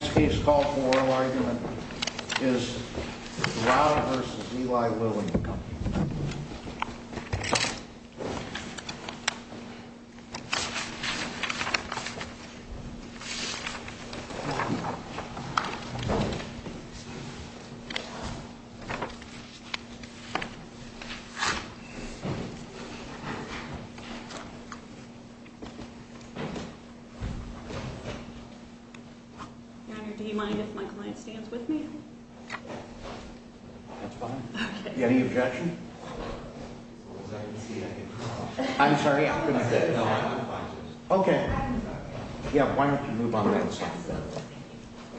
In this case, the call for oral argument is Derada v. Eli Lilly & Company Do you mind if my client stands with me? That's fine. Any objection? I'm sorry, I couldn't say. No, I'm fine. Yeah, why don't you move on to the other side.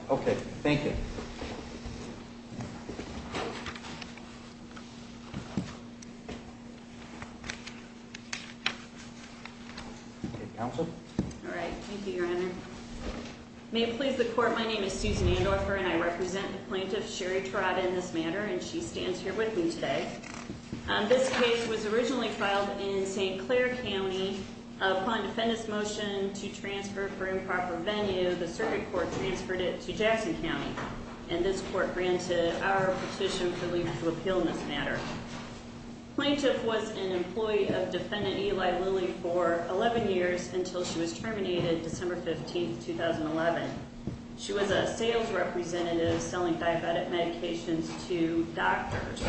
Okay, thank you. Okay, counsel? Alright, thank you, Your Honor. May it please the court, my name is Susan Andorfer and I represent the plaintiff, Sherri Terada, in this matter and she stands here with me today. This case was originally filed in St. Clair County. Upon defendant's motion to transfer for improper venue, the circuit court transferred it to Jackson County and this court granted our petition for leave to appeal in this matter. The plaintiff was an employee of defendant Eli Lilly for 11 years until she was terminated December 15, 2011. She was a sales representative selling diabetic medications to doctors.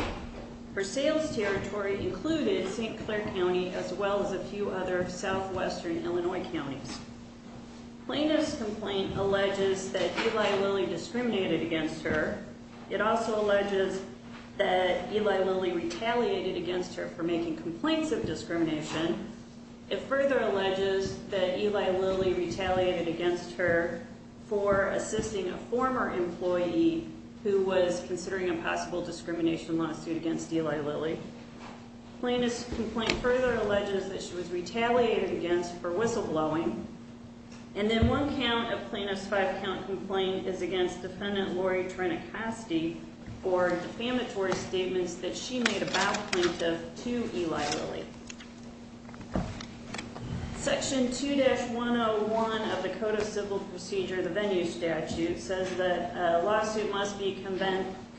Her sales territory included St. Clair County as well as a few other southwestern Illinois counties. Plaintiff's complaint alleges that Eli Lilly discriminated against her. It also alleges that Eli Lilly retaliated against her for making complaints of discrimination. It further alleges that Eli Lilly retaliated against her for assisting a former employee who was considering a possible discrimination lawsuit against Eli Lilly. Plaintiff's complaint further alleges that she was retaliated against for whistleblowing. And then one count of plaintiff's five-count complaint is against defendant Lori Trenacoste for defamatory statements that she made about plaintiff to Eli Lilly. Section 2-101 of the Code of Civil Procedure, the venue statute, says that a lawsuit must be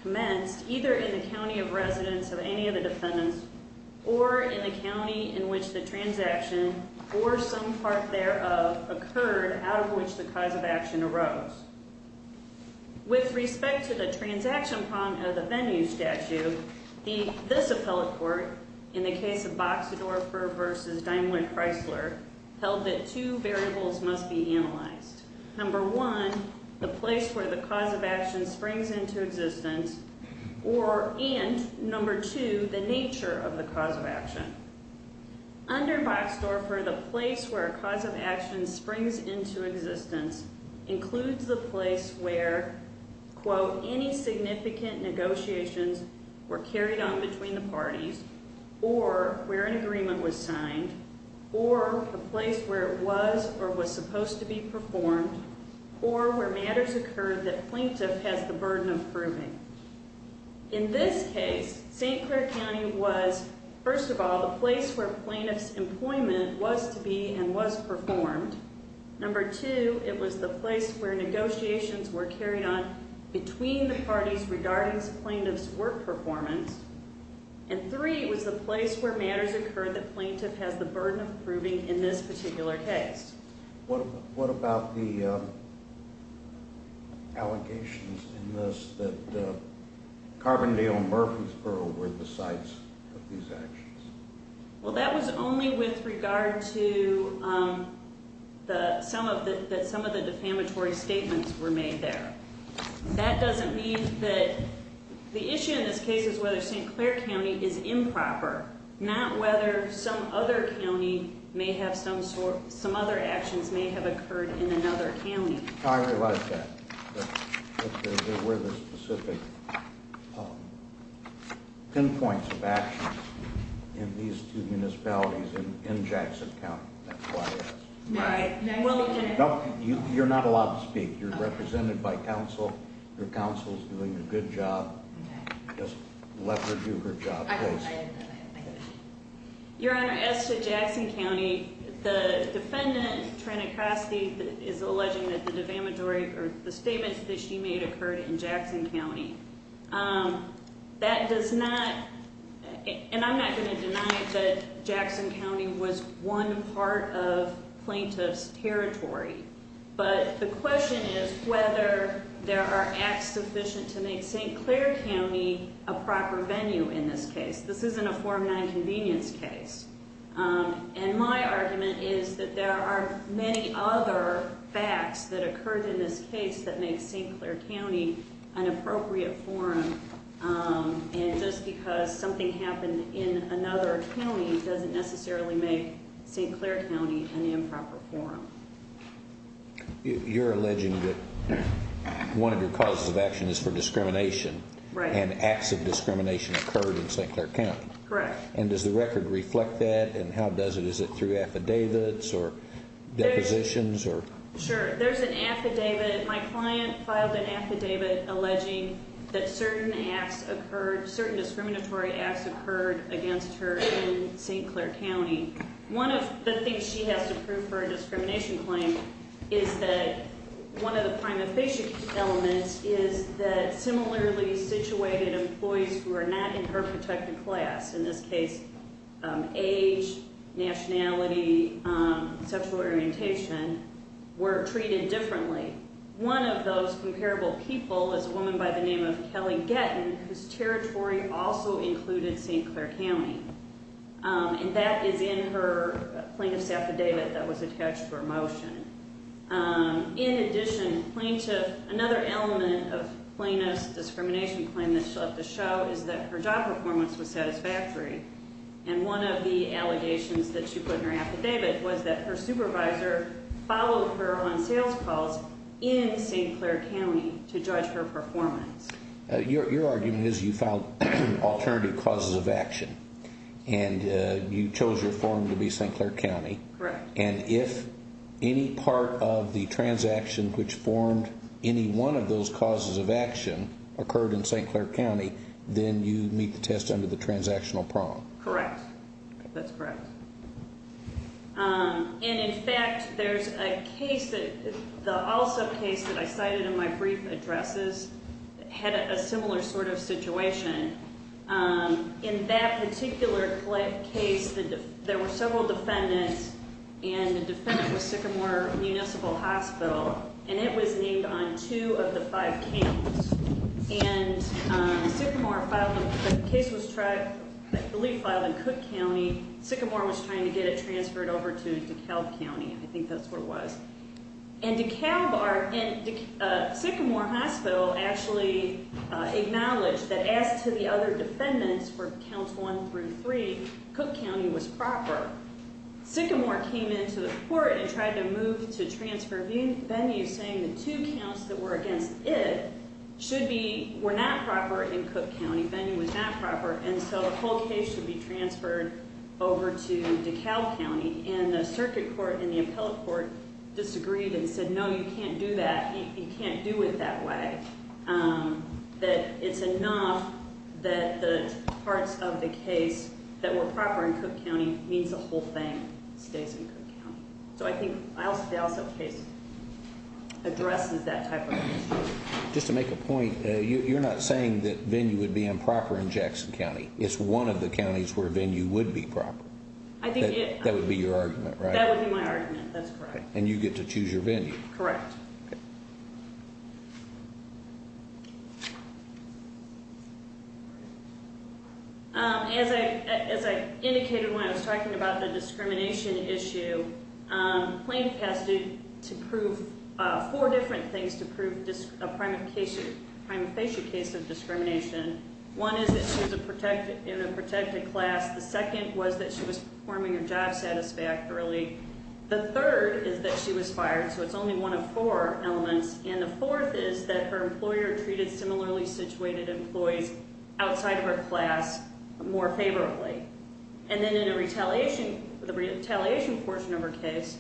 commenced either in the county of residence of any of the defendants or in the county in which the transaction or some part thereof occurred out of which the cause of action arose. With respect to the transaction problem of the venue statute, this appellate court, in the case of Boxdorfer v. Daimler-Chrysler, held that two variables must be analyzed. Number one, the place where the cause of action springs into existence, and number two, the nature of the cause of action. Under Boxdorfer, the place where a cause of action springs into existence includes the place where, quote, any significant negotiations were carried on between the parties or where an agreement was signed or the place where it was or was supposed to be performed or where matters occurred that plaintiff has the burden of proving. In this case, St. Clair County was, first of all, the place where plaintiff's employment was to be and was performed. Number two, it was the place where negotiations were carried on between the parties regarding plaintiff's work performance. And three, it was the place where matters occurred that plaintiff has the burden of proving in this particular case. What about the allegations in this that Carbondale and Murfreesboro were the sites of these actions? Well, that was only with regard to some of the defamatory statements were made there. That doesn't mean that the issue in this case is whether St. Clair County is improper, not whether some other county may have some other actions may have occurred in another county. I realize that. But there were the specific pinpoints of actions in these two municipalities in Jackson County. That's why I asked. You're not allowed to speak. You're represented by counsel. Your counsel is doing a good job. Just let her do her job. Your Honor, as to Jackson County, the defendant, Trina Crosty, is alleging that the defamatory or the statements that she made occurred in Jackson County. That does not, and I'm not going to deny it, that Jackson County was one part of plaintiff's territory. But the question is whether there are acts sufficient to make St. Clair County a proper venue in this case. This isn't a Form 9 convenience case. And my argument is that there are many other facts that occurred in this case that make St. Clair County an appropriate forum. And just because something happened in another county doesn't necessarily make St. Clair County an improper forum. You're alleging that one of your causes of action is for discrimination. And acts of discrimination occurred in St. Clair County. Correct. And does the record reflect that and how does it? Is it through affidavits or depositions? Sure. There's an affidavit. My client filed an affidavit alleging that certain acts occurred, certain discriminatory acts occurred against her in St. Clair County. One of the things she has to prove for a discrimination claim is that one of the prime efficient elements is that similarly situated employees who are not in her protected class, in this case age, nationality, sexual orientation, were treated differently. One of those comparable people is a woman by the name of Kelly Gettin whose territory also included St. Clair County. And that is in her plaintiff's affidavit that was attached to her motion. In addition, plaintiff another element of plaintiff's discrimination claim that she'll have to show is that her job performance was satisfactory and one of the allegations that she put in her affidavit was that her supervisor followed her on sales calls in St. Clair County to judge her performance. Your argument is you filed alternative causes of action and you chose your forum to be St. Clair County. Correct. And if any part of the transaction which formed any one of those causes of action occurred in St. Clair County then you meet the test under the transactional prong. Correct. That's correct. And in fact there's a case the also case that I cited in my brief addresses had a similar sort of situation. In that particular case there were several defendants and the defendant was Sycamore Municipal Hospital and it was named on two of the five counts. And Sycamore filed, the case was I believe filed in Cook County. Sycamore was trying to get it transferred over to DeKalb County. I think that's where it was. And DeKalb, Sycamore Hospital actually acknowledged that as to the other defendants for counts one through three Cook County was proper. Sycamore came into the court and tried to move to transfer Venue saying the two counts that were against it should be, were not proper in Cook County. Venue was not proper and so the whole case should be transferred over to DeKalb County. And the circuit court and the appellate court disagreed and said no you can't do that. You can't do it that way. That it's enough that the parts of the case that were proper in Cook County means the whole thing stays in Cook County. So I think the Alstead case addresses that type of issue. Just to make a point you're not saying that Venue would be improper in Jackson County. It's one of the counties where Venue would be proper. That would be your argument, right? That would be my argument. That's correct. And you get to choose your Venue. Correct. As I indicated when I was talking about the discrimination issue, Plaintiff has to prove four different things to prove a prima facie case of discrimination. One is that she was in a protected class. The second was that she was performing her job satisfactorily. The third is that she was fired. So it's only one of four elements. And the fourth is that her employer treated similarly situated employees outside of her class more favorably. And then in the retaliation portion of her case,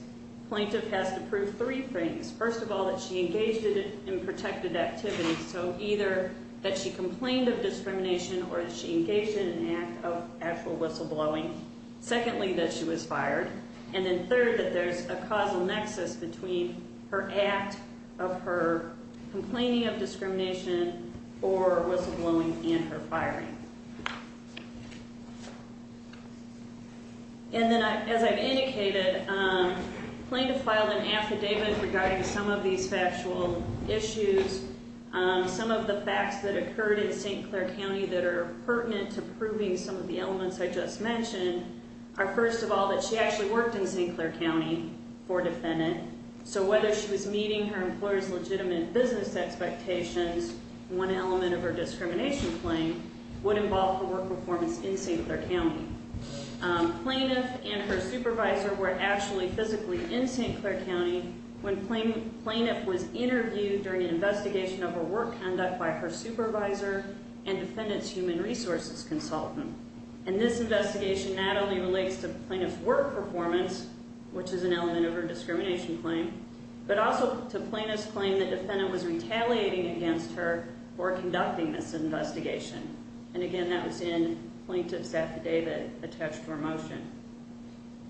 Plaintiff has to prove three things. First of all, that she engaged in protected activities. So either that she complained of discrimination or that she engaged in an act of actual whistleblowing. Secondly, that she was fired. And then third, that there's a causal nexus between her act of her complaining of discrimination or whistleblowing and her firing. And then as I've indicated, Plaintiff filed an affidavit regarding some of these factual issues. Some of the facts that occurred in St. Clair County that are pertinent to proving some of the elements I just mentioned are, first of all, that she actually worked in St. Clair County and that she was meeting her employer's legitimate business expectations. One element of her discrimination claim would involve her work performance in St. Clair County. Plaintiff and her supervisor were actually physically in St. Clair County when Plaintiff was interviewed during an investigation of her work conduct by her supervisor and defendant's human resources consultant. And this investigation not only relates to Plaintiff's work performance, which is an element of her discrimination claim, but also to Plaintiff's claim that defendant was retaliating against her for conducting this investigation. And again, that was in Plaintiff's affidavit attached for motion.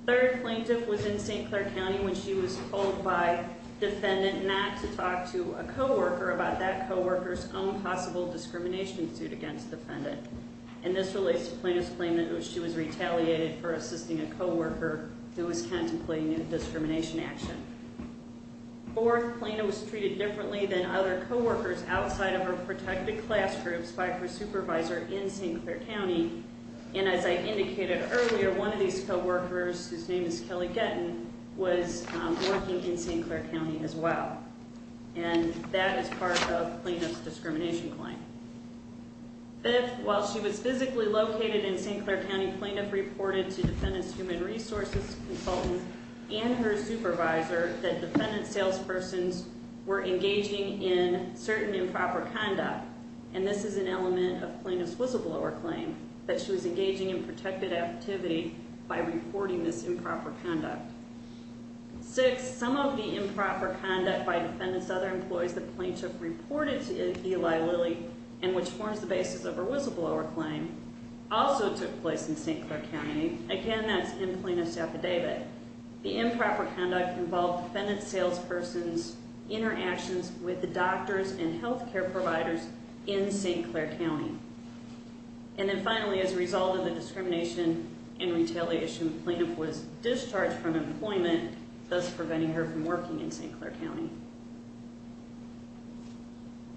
Third, Plaintiff was in St. Clair County when she was told by defendant not to talk to a co-worker about that co-worker's own possible discrimination suit against defendant. And this relates to Plaintiff's claim that she was retaliated for assisting a co-worker who was contemplating a discrimination action. Fourth, Plaintiff was treated differently than other co-workers outside of her protected class groups by her supervisor in St. Clair County. And as I indicated earlier, one of these co-workers, whose name is Kelly Gettin, was working in St. Clair County as well. And that is part of Plaintiff's discrimination claim. Fifth, while she was physically located in St. Clair County, Plaintiff reported to defendant's human resources consultant and her supervisor that defendant's salespersons were engaging in certain improper conduct. And this is an element of Plaintiff's whistleblower claim, that she was engaging in protected activity by reporting this improper conduct. Sixth, some of the improper conduct by liability, and which forms the basis of her whistleblower claim, also took place in St. Clair County. Again, that's in Plaintiff's affidavit. The improper conduct involved defendant's salespersons' interactions with the doctors and healthcare providers in St. Clair County. And then finally, as a result of the discrimination and retaliation, Plaintiff was discharged from employment, thus preventing her from working in St. Clair County.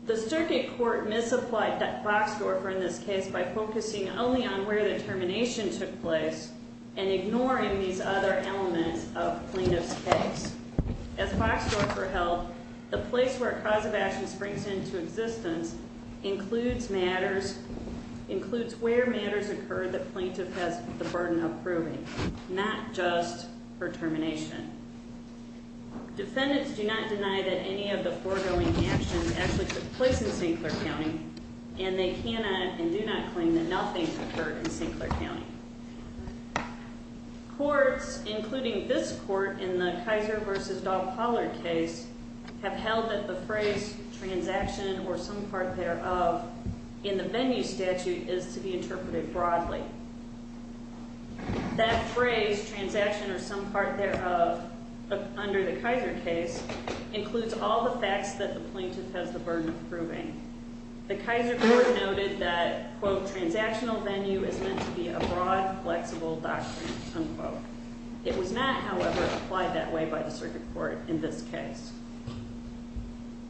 The circuit court misapplied Boxdorfer in this case by focusing only on where the termination took place, and ignoring these other elements of Plaintiff's case. As Boxdorfer held, the place where a cause of action springs into existence includes where matters occur that Plaintiff has the burden of proving, not just her termination. Defendants do not deny that any of the foregoing actions actually took place in St. Clair County, and they cannot and do not claim that nothing occurred in St. Clair County. Courts, including this court in the Kaiser v. Dahl-Pollard case, have held that the phrase, transaction or some part thereof, in the venue statute is to be interpreted broadly. That phrase, transaction or some part thereof, under the Kaiser case, includes all the facts that the Plaintiff has the burden of proving. The Kaiser court noted that, quote, transactional venue is meant to be a broad, flexible doctrine, unquote. It was not, however, applied that way by the circuit court in this case.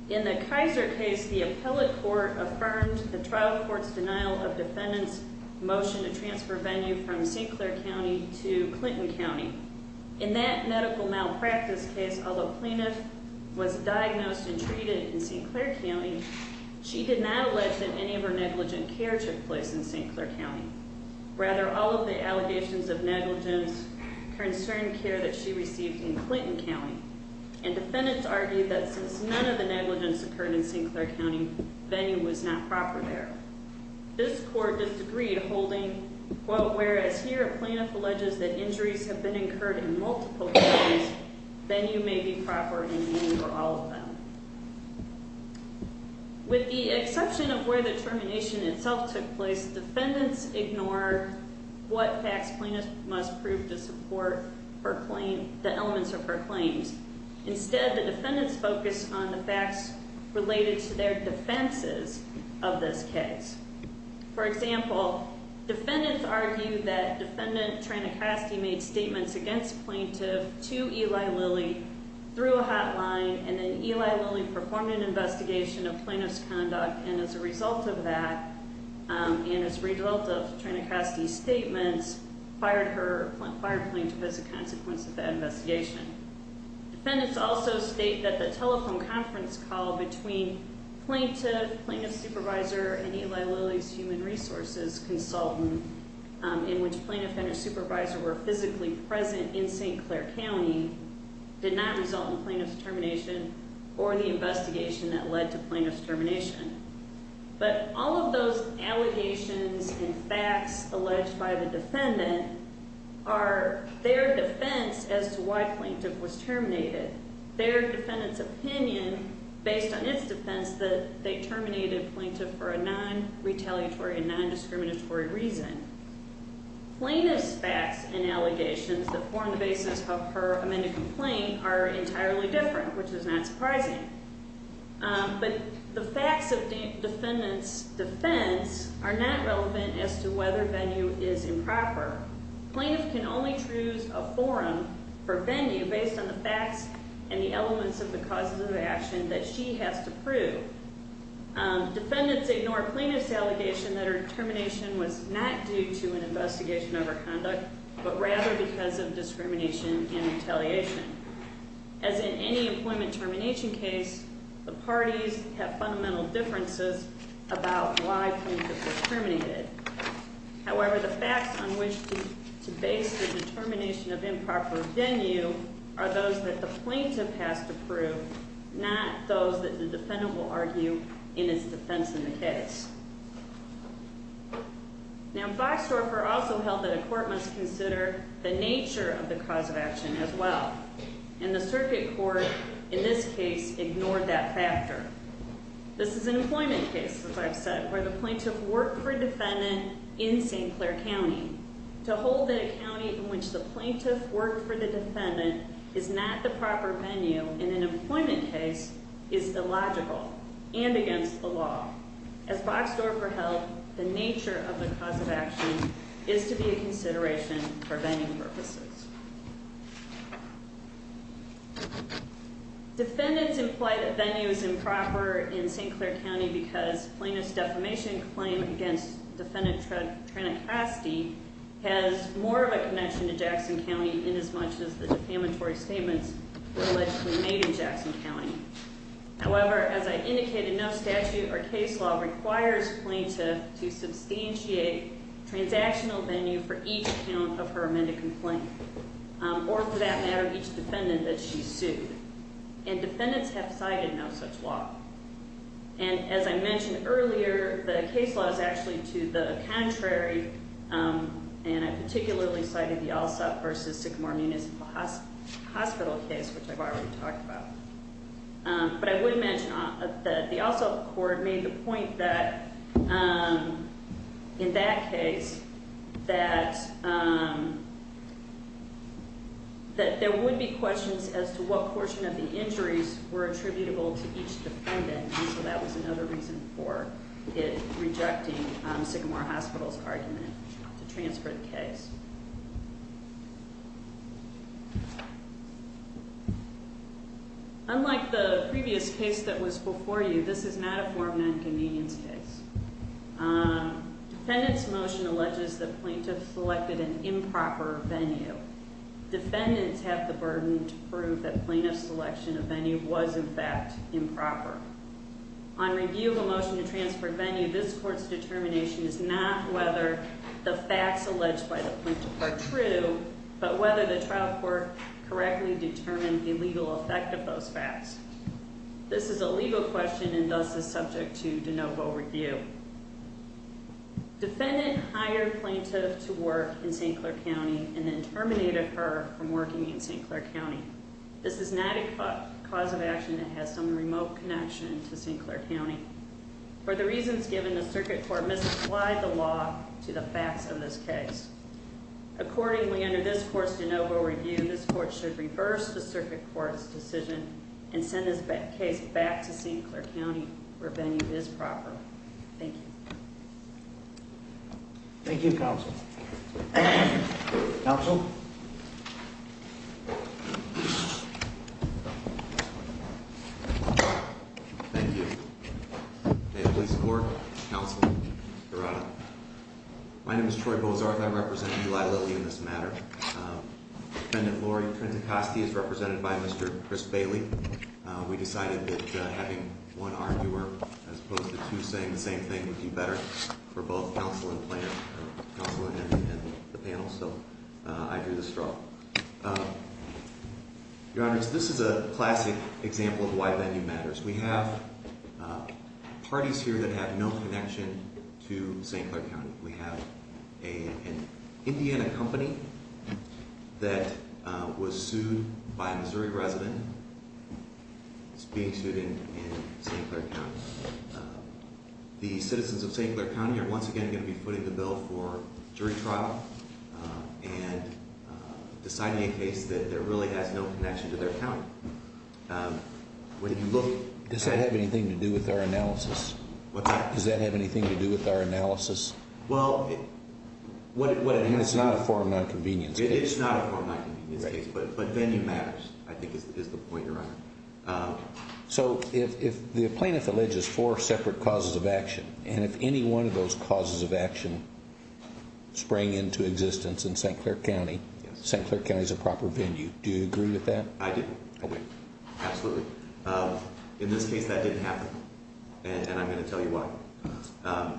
In the Kaiser case, the appellate court affirmed the trial court's denial of defendant's motion to transfer venue from St. Clair County to Clinton County. In that medical malpractice case, although Plaintiff was diagnosed and treated in St. Clair County, she did not allege that any of her negligent care took place in St. Clair County. Rather, all of the allegations of negligence concerned care that she received in Clinton County, and defendants argued that since none of the negligence occurred in St. Clair County, venue was not proper there. This court disagreed, holding, quote, whereas here Plaintiff alleges that injuries have been incurred in multiple cases, venue may be proper in meaning for all of them. With the exception of where the termination itself took place, defendants ignored what facts Plaintiff must prove to support the elements of her claims. Instead, the defendants focused on the defenses of this case. For example, defendants argued that defendant Tranecasty made statements against Plaintiff to Eli Lilly through a hotline, and then Eli Lilly performed an investigation of Plaintiff's conduct, and as a result of that, and as a result of Tranecasty's statements, fired Plaintiff as a consequence of that investigation. Defendants also state that a telephone conference call between Plaintiff, Plaintiff's supervisor, and Eli Lilly's human resources consultant, in which Plaintiff and her supervisor were physically present in St. Clair County, did not result in Plaintiff's termination or the investigation that led to Plaintiff's termination. But all of those allegations and facts alleged by the defendant are their defense as to why Plaintiff was terminated. Their defendant's opinion, based on its defense, that they terminated Plaintiff for a non-retaliatory and non-discriminatory reason. Plaintiff's facts and allegations that form the basis of her amended complaint are entirely different, which is not surprising. But the facts of defendant's defense are not relevant as to whether venue is improper. Plaintiff can only choose a forum for venue based on the facts and the elements of the causes of action that she has to prove. Defendants ignore Plaintiff's allegation that her termination was not due to an investigation of her conduct, but rather because of discrimination and retaliation. As in any employment termination case, the parties have fundamental differences about why Plaintiff was to base the determination of improper venue are those that the Plaintiff has to prove, not those that the defendant will argue in its defense in the case. Now, Boxhorfer also held that a court must consider the nature of the cause of action as well. And the Circuit Court, in this case, ignored that factor. This is an employment case, as I've said, where the Plaintiff worked for defendant in St. Clair County. To hold that a county in which the Plaintiff worked for the defendant is not the proper venue in an employment case is illogical and against the law. As Boxhorfer held, the nature of the cause of action is to be a consideration for venue purposes. Defendants imply that venue is improper in St. Clair County because Plaintiff's defamation claim against defendant Trina Castee has more of a connection to Jackson County in as much as the defamatory statements allegedly made in Jackson County. However, as I indicated, no statute or case law requires Plaintiff to substantiate transactional venue for each count of her amended complaint, or for that matter, each defendant that she sued. And as I mentioned earlier, the case law is actually to the contrary, and I particularly cited the Alsop v. Sycamore Municipal Hospital case, which I've already talked about. But I would mention that the Alsop Court made the point that in that case, that there would be questions as to what portion of the injuries were attributable to each defendant, and so that was another reason for it rejecting Sycamore Hospital's argument to transfer the case. Unlike the previous case that was before you, this is not a form of nonconvenience case. Defendant's motion alleges that Plaintiff selected an improper venue. Defendants have the burden to prove that Plaintiff's selection of venue was, in fact, improper. On review of a motion to transfer venue, this Court's determination is not whether the facts alleged by the Plaintiff are true, but whether the trial court correctly determined the legal effect of those facts. This is a legal question and thus is subject to de novo review. Defendant hired Plaintiff to work in St. Clair County and then terminated her from working in St. Clair County. This is not a cause of action that has some remote connection to St. Clair County. For the reasons given, the Circuit Court misapplied the law to the facts of this case. Accordingly, under this Court's de novo review, this Court should reverse the Circuit Court's decision and send this case back to St. Clair County where venue is proper. Thank you. Thank you, Counsel. Counsel. Thank you. May it please the Court. Counsel. Your Honor. My name is Troy Bozarth. I represent Eli Lilly in this matter. Defendant Lori Trentacosti is represented by Mr. Chris Bailey. We decided that having one arguer as opposed to two saying the same thing would be better for both Counsel and Plaintiff. Counsel and the panel, so I drew the straw. Your Honor, this is a classic example of why venue matters. We have parties here that have no connection to St. Clair County. We have an Indiana company that was sued by a Missouri resident. It's being sued in St. Clair County. The citizens of St. Clair County are once again going to be putting the bill for jury trial and deciding a case that really has no connection to their county. Does that have anything to do with our analysis? What's that? Does that have anything to do with our analysis? Well, what it has to do with It's not a form of non-convenience case. It's not a form of non-convenience case. But venue matters, I think is the point, Your Honor. So if the Plaintiff alleges four separate causes of action, and if any one of those causes of action sprang into existence in St. Clair County, St. Clair County is a proper venue. Do you agree with that? I do. Absolutely. In this case, that didn't happen. And I'm going to tell you why.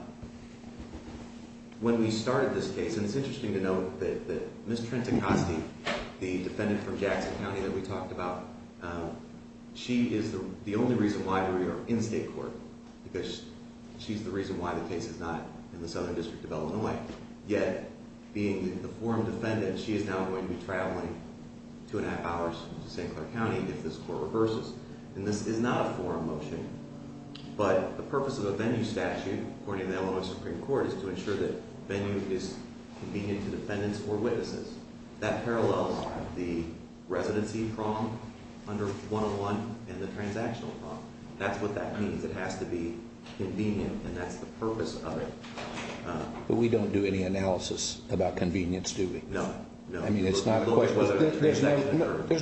When we started this case, and it's interesting to note that Ms. Trent-Acosti, the She is the only reason why we are in state court. Because she's the reason why the case is not in the Southern District of Illinois. Yet, being the forum defendant, she is now going to be traveling two and a half hours to St. Clair County if this court reverses. And this is not a forum motion. But the purpose of a venue statute, according to the Illinois Supreme Court, is to ensure that venue is convenient to defendants or witnesses. That parallels the residency prong under 101 and the transactional prong. That's what that means. It has to be convenient, and that's the purpose of it. But we don't do any analysis about convenience, do we? No. There's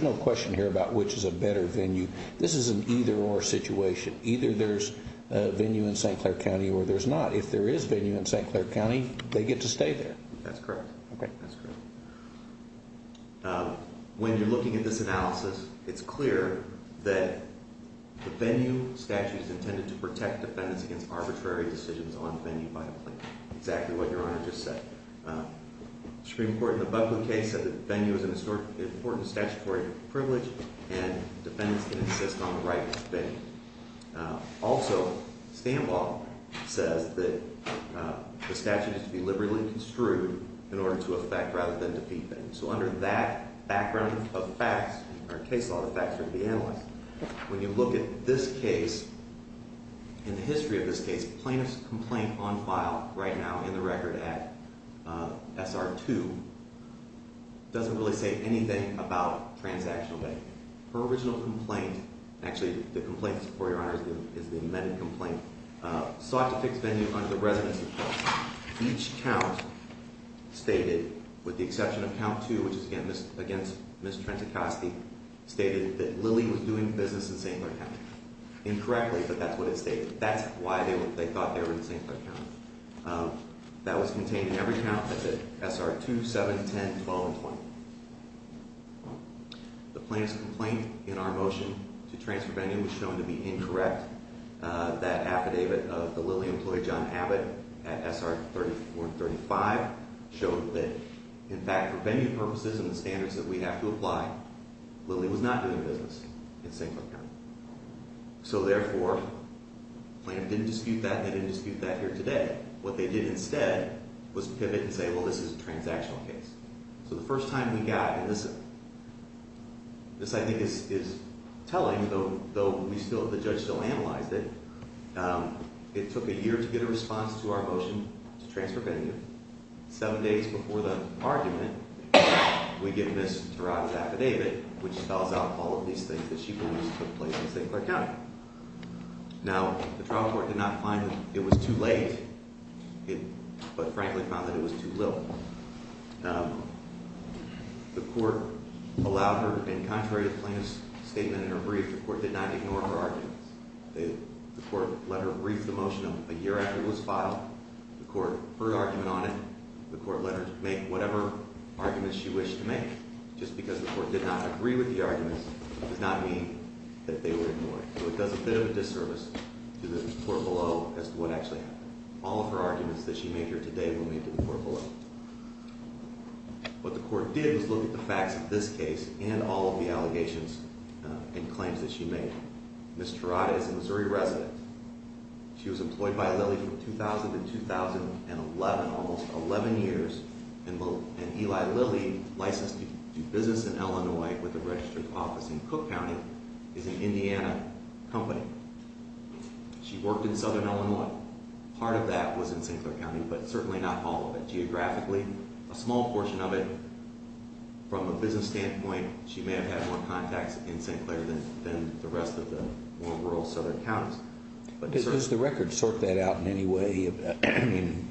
no question here about which is a better venue. This is an either-or situation. Either there's a venue in St. Clair County, or there's not. If there is a venue in St. Clair County, they get to stay there. That's correct. When you're looking at this analysis, it's clear that the venue statute is intended to protect defendants against arbitrary decisions on venue by the plaintiff. Exactly what Your Honor just said. The Supreme Court in the Buckley case said that venue is an important statutory privilege, and defendants can insist on the right venue. Also, Stanbaugh says that the statute is to be liberally construed in order to affect rather than defeat defendants. So under that background of facts, or case law, the facts are to be analyzed. When you look at this case, in the history of this case, plaintiff's complaint on file right now in the record at SR 2 doesn't really say anything about transactional venue. Her original complaint, actually the complaint, Your Honor, is the amended complaint, sought to fix venue under the resident's request. Each count stated, with the exception of count 2, which is against Ms. Trentacosti, stated that Lily was doing business in St. Clair County. Incorrectly, but that's what it stated. That's why they thought they were in St. Clair County. That was contained in every count at SR 2, 7, 10, 12, and 20. The plaintiff's complaint in our motion to transfer venue was shown to be incorrect. That affidavit of the Lily employee, John Abbott, at SR 34 and 35 showed that, in fact, for venue purposes and the standards that we have to apply, Lily was not doing business in St. Clair County. So therefore, plaintiff didn't dispute that and they didn't dispute that here today. What they did instead was pivot and say, well, this is a transactional case. So the first time we got, and this I think is telling, though the judge still analyzed it, it took a year to get a response to our motion to transfer venue. Seven days before the argument, we give Ms. Turaga's affidavit, which spells out all of these things that she believes took place in St. Clair County. Now, the trial court did not find it was too late, but frankly found that it was too little. The court allowed her, and contrary to the plaintiff's statement in her brief, the court did not ignore her arguments. The court let her brief the motion a year after it was filed. The court heard argument on it. The court let her make whatever arguments she wished to make. Just because the court did not agree with the arguments does not mean that they were ignored. So it does a bit of a disservice to the court below as to what actually happened. All of her arguments that she made here today will be made to the court below. What the court did was look at the facts of this case and all of the allegations and claims that she made. Ms. Turaga is a Missouri resident. She was employed by Lilly from 2000 to 2011, almost 11 years, and Eli Lilly, licensed to do business in Illinois with a registered office in Cook County, is an Indiana company. She worked in Southern Illinois. Part of that was in St. Clair County, but certainly not all of it. Geographically, a small portion of it, from a business standpoint, she may have had more contacts in St. Clair than the rest of the more rural Southern counties. Does the record sort that out in any way? I mean,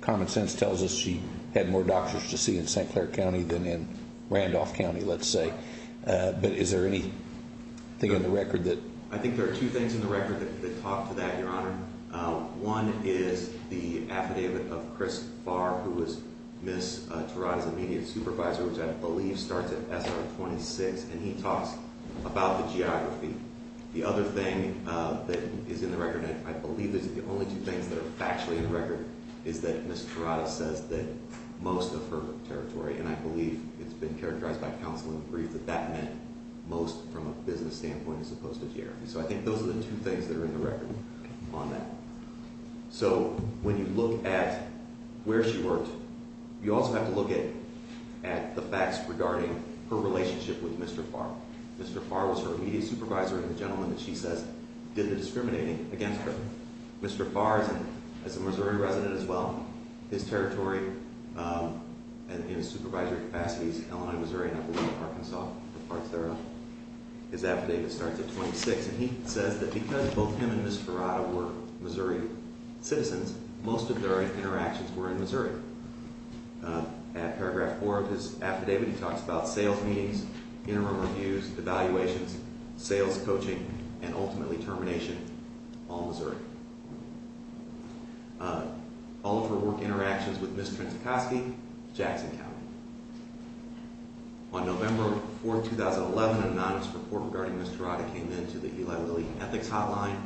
common sense tells us she had more doctors to see in St. Clair County than in Randolph County, let's say. But is there anything in the record that... I think there are two things in the record that talk to that, Your Honor. One is the affidavit of Chris Farr, who was Ms. Turaga's immediate supervisor, which I believe starts at SR 26, and he talks about the geography. The other thing that is in the record, and I believe these are the only two things that are factually in the record, is that Ms. Turaga says that most of her territory, and I believe it's been characterized by counsel in the brief that that meant, most from a business standpoint as opposed to geography. So I think those are the two things that are in the record on that. So when you look at where she worked, you also have to look at the facts regarding her relationship with Mr. Farr. Mr. Farr was her immediate supervisor, and the gentleman that she says did the discriminating against her. Mr. Farr is a Missouri resident as well. His territory in his supervisory capacities, Illinois, Missouri, and I believe Arkansas departs there. His affidavit starts at 26, and he says that because both him and Ms. Turaga were Missouri citizens, most of their interactions were in Missouri. At paragraph 4 of his affidavit, he talks about sales meetings, interim reviews, evaluations, sales coaching, and ultimately termination on Missouri. All of her work interactions with Ms. Trincicosky, Jackson County. On November 4, 2011, an anonymous report regarding Ms. Turaga came in to the Eli Lilly Ethics Hotline.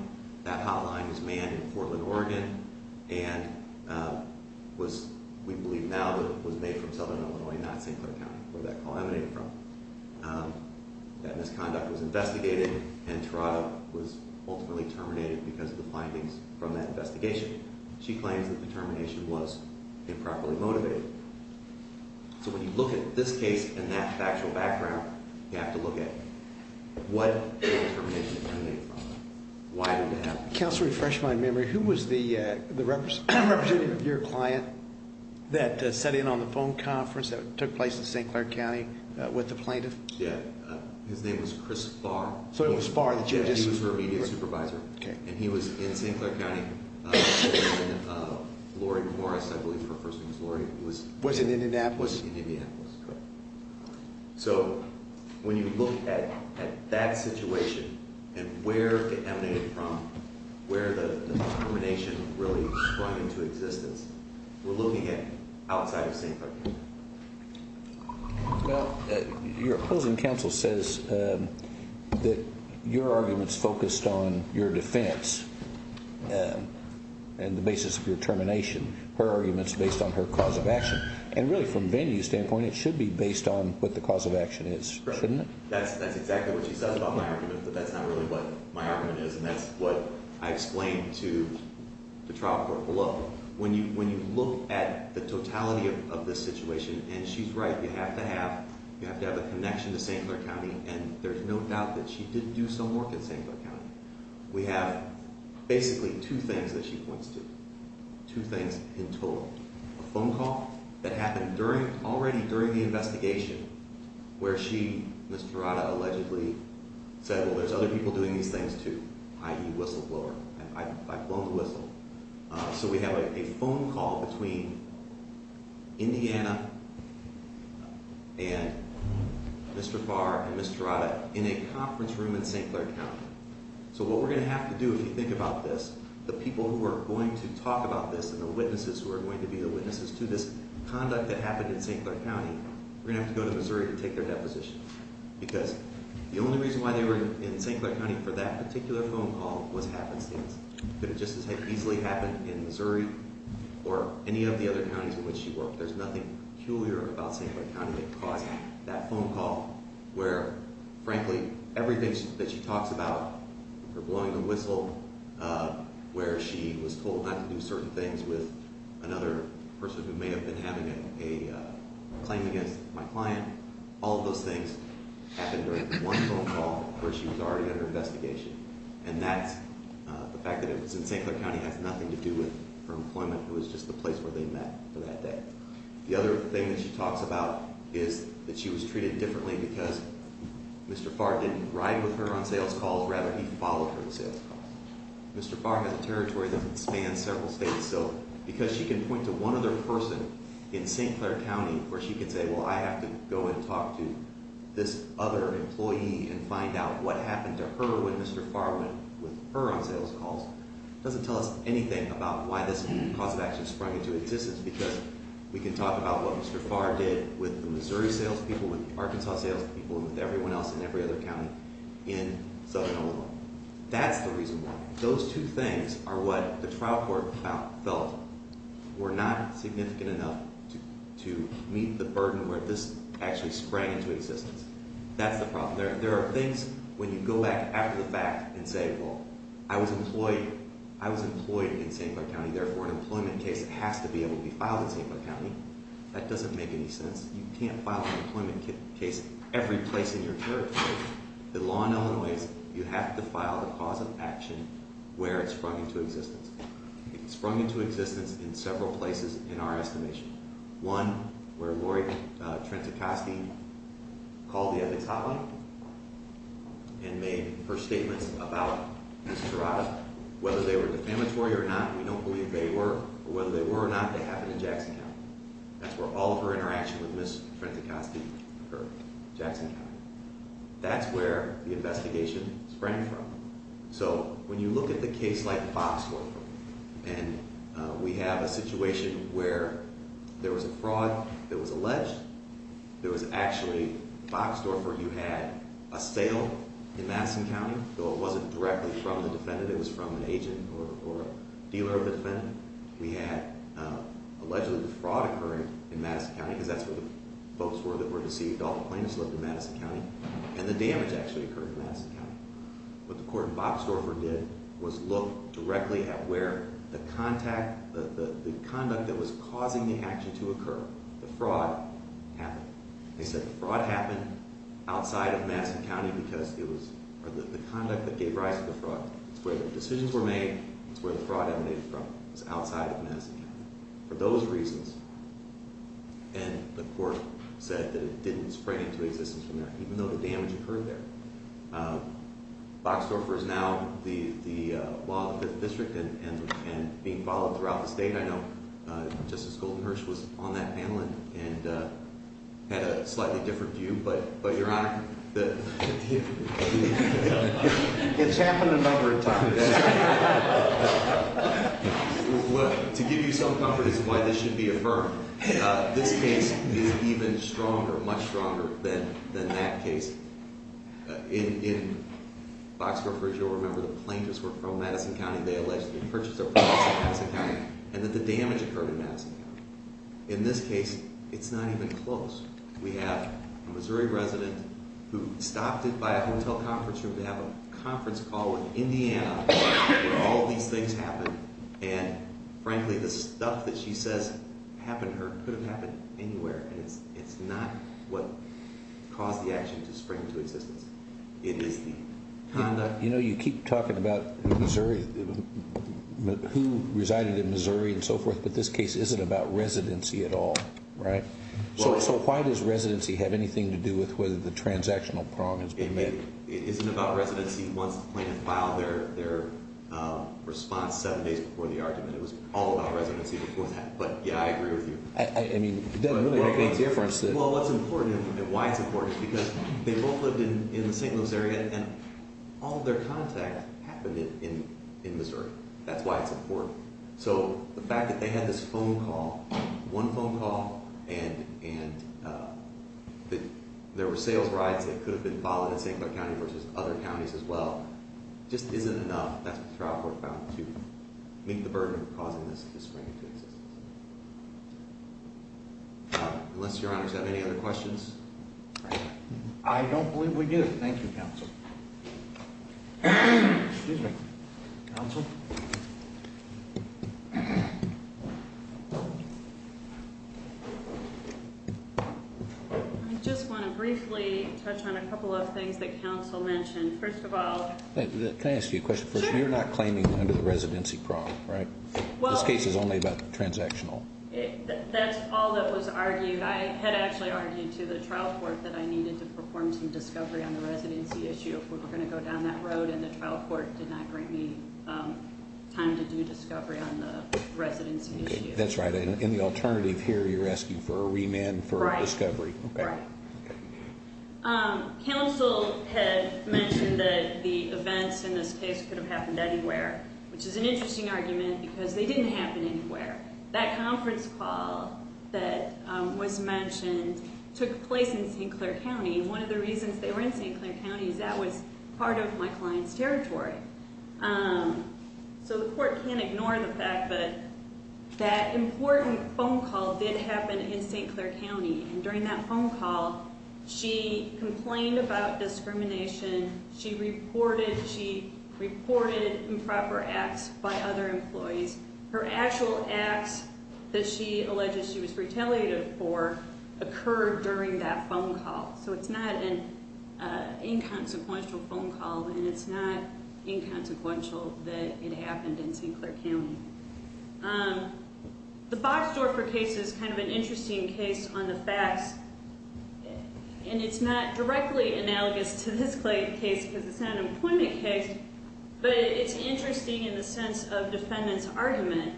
That hotline is manned in Portland, Oregon, and was, we believe now, was made from southern Illinois, not St. Clair County, where that call emanated from. That misconduct was investigated, and Turaga was ultimately terminated because of the findings from that investigation. She claims that the termination was improperly motivated. So when you look at this case and that factual background, you have to look at what termination emanated from it. Why did that happen? Counselor, to refresh my memory, who was the representative of your client that sat in on the phone conference that took place in St. Clair County with the plaintiff? Yeah. His name was Chris Farr. He was her immediate supervisor, and he was in St. Clair County. Lori Morris, I believe her first name is Lori, was in Indianapolis. Correct. So when you look at that situation and where it emanated from, where the termination really sprung into existence, we're looking at outside of St. Clair County. Your opposing counsel says that your argument is focused on your defense and the basis of your termination. Her argument is based on her cause of action. And really, from Vandy's standpoint, it should be based on what the cause of action is, shouldn't it? That's exactly what she says about my argument, but that's not really what my argument is, and that's what I explained to the trial court below. When you look at the totality of this situation, and she's right, you have to have a connection to St. Clair County, and there's no doubt that she did do some work in St. Clair County. We have basically two things that she points to, two things in total. A phone call that happened already during the investigation where she, Ms. Jurata, allegedly said, well, there's other people doing these things too, i.e. whistleblower. I've blown the whistle. So we have a phone call between Indiana and Mr. Farr and Ms. Jurata in a conference room in St. Clair County. So what we're going to have to do, if you think about this, the people who are going to talk about this and the witnesses who are going to be the witnesses to this conduct that happened in St. Clair County, we're going to have to go to Missouri to take their deposition because the only reason why they were in St. Clair County for that particular phone call was happenstance. It could have just as easily happened in Missouri or any of the other counties in which she worked. There's nothing peculiar about St. Clair County that caused that phone call where, frankly, everything that she talks about, her blowing the whistle, where she was told not to do certain things with another person who may have been having a claim against my client, all of those things happened during one phone call where she was already under investigation. And that's the fact that it was in St. Clair County and has nothing to do with her employment. It was just the place where they met for that day. The other thing that she talks about is that she was treated differently because Mr. Farr didn't ride with her on sales calls. Rather, he followed her on sales calls. Mr. Farr has a territory that spans several states. Because she can point to one other person in St. Clair County where she can say, well, I have to go and talk to this other employee and find out what happened to her when Mr. Farr went with her on sales calls. It doesn't tell us anything about why this cause of action sprung into existence because we can talk about what Mr. Farr did with the Missouri sales people, with the Arkansas sales people, and with everyone else in every other county in Southern Illinois. That's the reason why. Those two things are what the trial court felt were not significant enough to meet the burden of where this actually sprang into existence. That's the problem. There are things when you go back after the fact and say, well, I was employed in St. Clair County, therefore an employment case has to be able to be filed in St. Clair County. That doesn't make any sense. You can't file an employment case every place in your territory. The law in Illinois, you have to file the cause of action where it sprung into existence. It sprung into existence in several places in our estimation. One, where Lori Trentzikoski called the ethics hotline and made her statements about Ms. Tirada, whether they were defamatory or not, we don't believe they were, or whether they were or not, they happened in Jackson County. That's where all of her interaction with Ms. Trentzikoski occurred in Jackson County. That's where the investigation sprang from. So when you look at the case like Boxdorfer and we have a situation where there was a fraud that was alleged, there was actually, Boxdorfer, you had a sale in Madison County, though it wasn't directly from the defendant, it was from an agent or a dealer of the defendant. We had allegedly the fraud occurring in Madison County, because that's where the folks were that were deceived, all the plaintiffs lived in Madison County, and the damage actually occurred in Madison County. What the court in Boxdorfer did was look directly at where the conduct that was causing the action to occur, the fraud, happened. They said the fraud happened outside of Madison County because it was the conduct that gave rise to the fraud. It's where the decisions were made, it's where the fraud emanated from. It was outside of Madison County. For those reasons, and the court said that it didn't sprang into existence from there, even though the damage occurred there. Boxdorfer is now the law of the 5th District and being followed throughout the state. I know Justice Goldenherz was on that panel and had a it's happened a number of times. To give you some comfort as to why this should be affirmed, this case is even stronger, much stronger than that case. In Boxdorfer, as you'll remember, the plaintiffs were from Madison County. They allegedly purchased their properties in Madison County and that the damage occurred in Madison County. In this case, it's not even close. We have a Missouri resident who stopped by a hotel conference room to have a conference call with Indiana where all of these things happened. Frankly, the stuff that she says happened to her could have happened anywhere. It's not what caused the action to spring into existence. It is the conduct. You keep talking about who resided in Missouri and so forth, but this case isn't about residency at all. Why does residency have anything to do with whether the transactional problem has been made? It isn't about residency once the plaintiff filed their response seven days before the argument. It was all about residency before that, but I agree with you. What's important and why it's important is because they both lived in the St. Louis area and all of their contact happened in Missouri. That's why it's important. The fact that they had this phone call, one phone call and that there were sales rides that could have been filed in St. Clair County versus other counties as well just isn't enough. That's what trial court found to meet the burden of causing this to spring into existence. Unless your honors have any other questions? I don't believe we do. Thank you, counsel. Excuse me. Counsel? I just want to briefly touch on a couple of things that counsel mentioned. First of all... Can I ask you a question first? Sure. You're not claiming under the residency problem, right? This case is only about transactional. That's all that was argued. I had actually argued to the trial court that I needed to perform some discovery on the residency issue if we were going to go down that road and the trial court did not grant me time to do discovery on the residency issue. That's right. In the alternative here, you're asking for a remand for discovery. Right. Counsel had mentioned that the events in this case could have happened anywhere, which is an interesting argument because they didn't happen anywhere. That conference call that was mentioned took place in St. Clair County. One of the reasons they were in St. Clair County is that was part of my client's territory. The court can't ignore the fact that that important phone call did happen in St. Clair County. During that phone call, she complained about discrimination. She reported improper acts by other employees. Her actual acts that she alleged she was retaliated for occurred during that phone call. It's not an inconsequential phone call and it's not inconsequential that it happened in St. Clair County. The Bobsdorfer case is kind of an interesting case on the facts and it's not directly analogous to this case because it's not an appointment case, but it's interesting in the sense of defendant's argument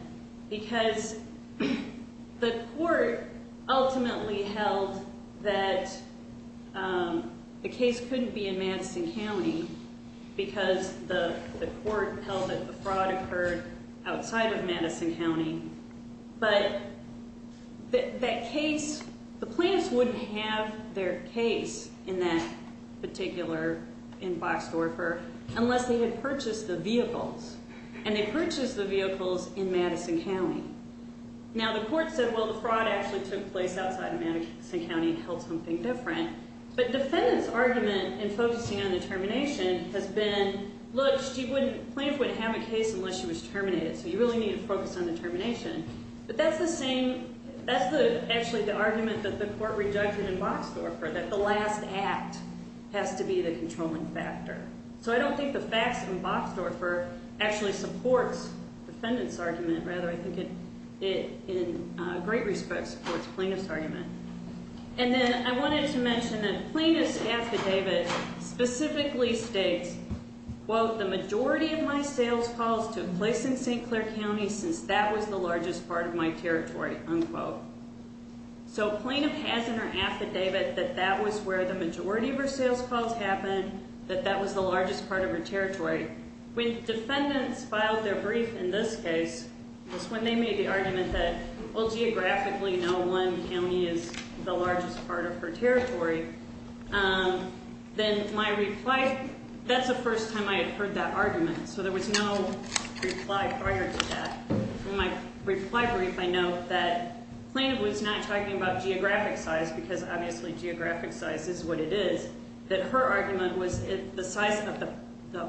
because the court ultimately held that the case couldn't be in Madison County because the court held that the fraud occurred outside of Madison County, but that case, the plaintiffs wouldn't have their case in that particular, in Bobsdorfer, unless they had purchased the vehicles and they purchased the vehicles in Madison County. Now, the court said, well, the fraud actually took place outside of Madison County and held something different, but defendant's argument in focusing on the termination has been, look, plaintiff wouldn't have a case unless she was terminated, so you really need to focus on the termination. But that's the same, that's actually the argument that the court re-judged in Bobsdorfer, that the last act has to be the controlling factor. So I don't think the facts in Bobsdorfer actually supports defendant's argument, rather I think it in great respect supports plaintiff's argument. And then I wanted to mention that plaintiff's affidavit specifically states, quote, the majority of my sales calls took place in St. Clair County since that was the largest part of my territory, unquote. So plaintiff has in her affidavit that that was where the majority of her sales calls happened, that that was the largest part of her territory. When defendants filed their brief in this case, was when they made the argument that well, geographically, no one county is the largest part of her territory, then my reply, that's the first time I had heard that argument, so there was no reply prior to that. In my reply brief I note that plaintiff was not talking about geographic size because obviously geographic size is what it is, that her argument was the size of the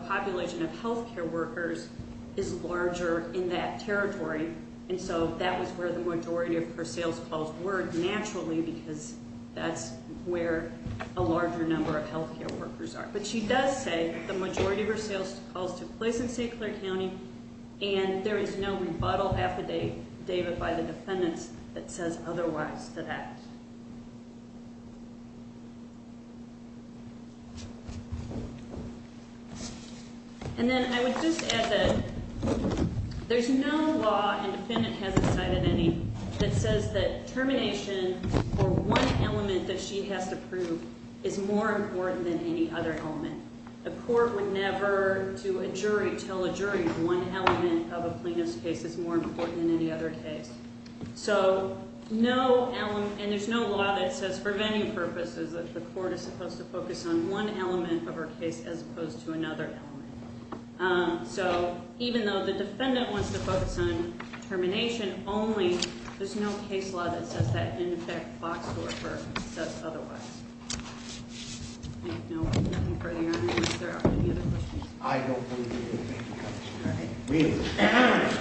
population of healthcare workers is larger in that territory and so that was where the majority of her sales calls were naturally because that's where a larger number of healthcare workers are. But she does say that the majority of her sales calls took place in St. Clair County and there is no rebuttal affidavit by the defendants that says otherwise to that. And then I would just add that there's no law, and defendant hasn't cited any, that says that termination for one element that she has to prove is more important than any other element. The court would never do a jury tell a jury one element of a plaintiff's case is more important than any other case. So no element, and there's no law that says for venue purposes that the court is supposed to focus on one or the other element. So even though the defendant wants to focus on termination only, there's no case law that says that in effect Fox-Dorfer says otherwise. I don't know if there are any other questions. I don't believe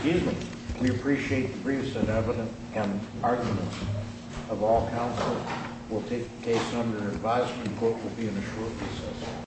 you. We appreciate the briefs and evidence and arguments of all counsel. We'll take the case under advisement. The court will be in a short process.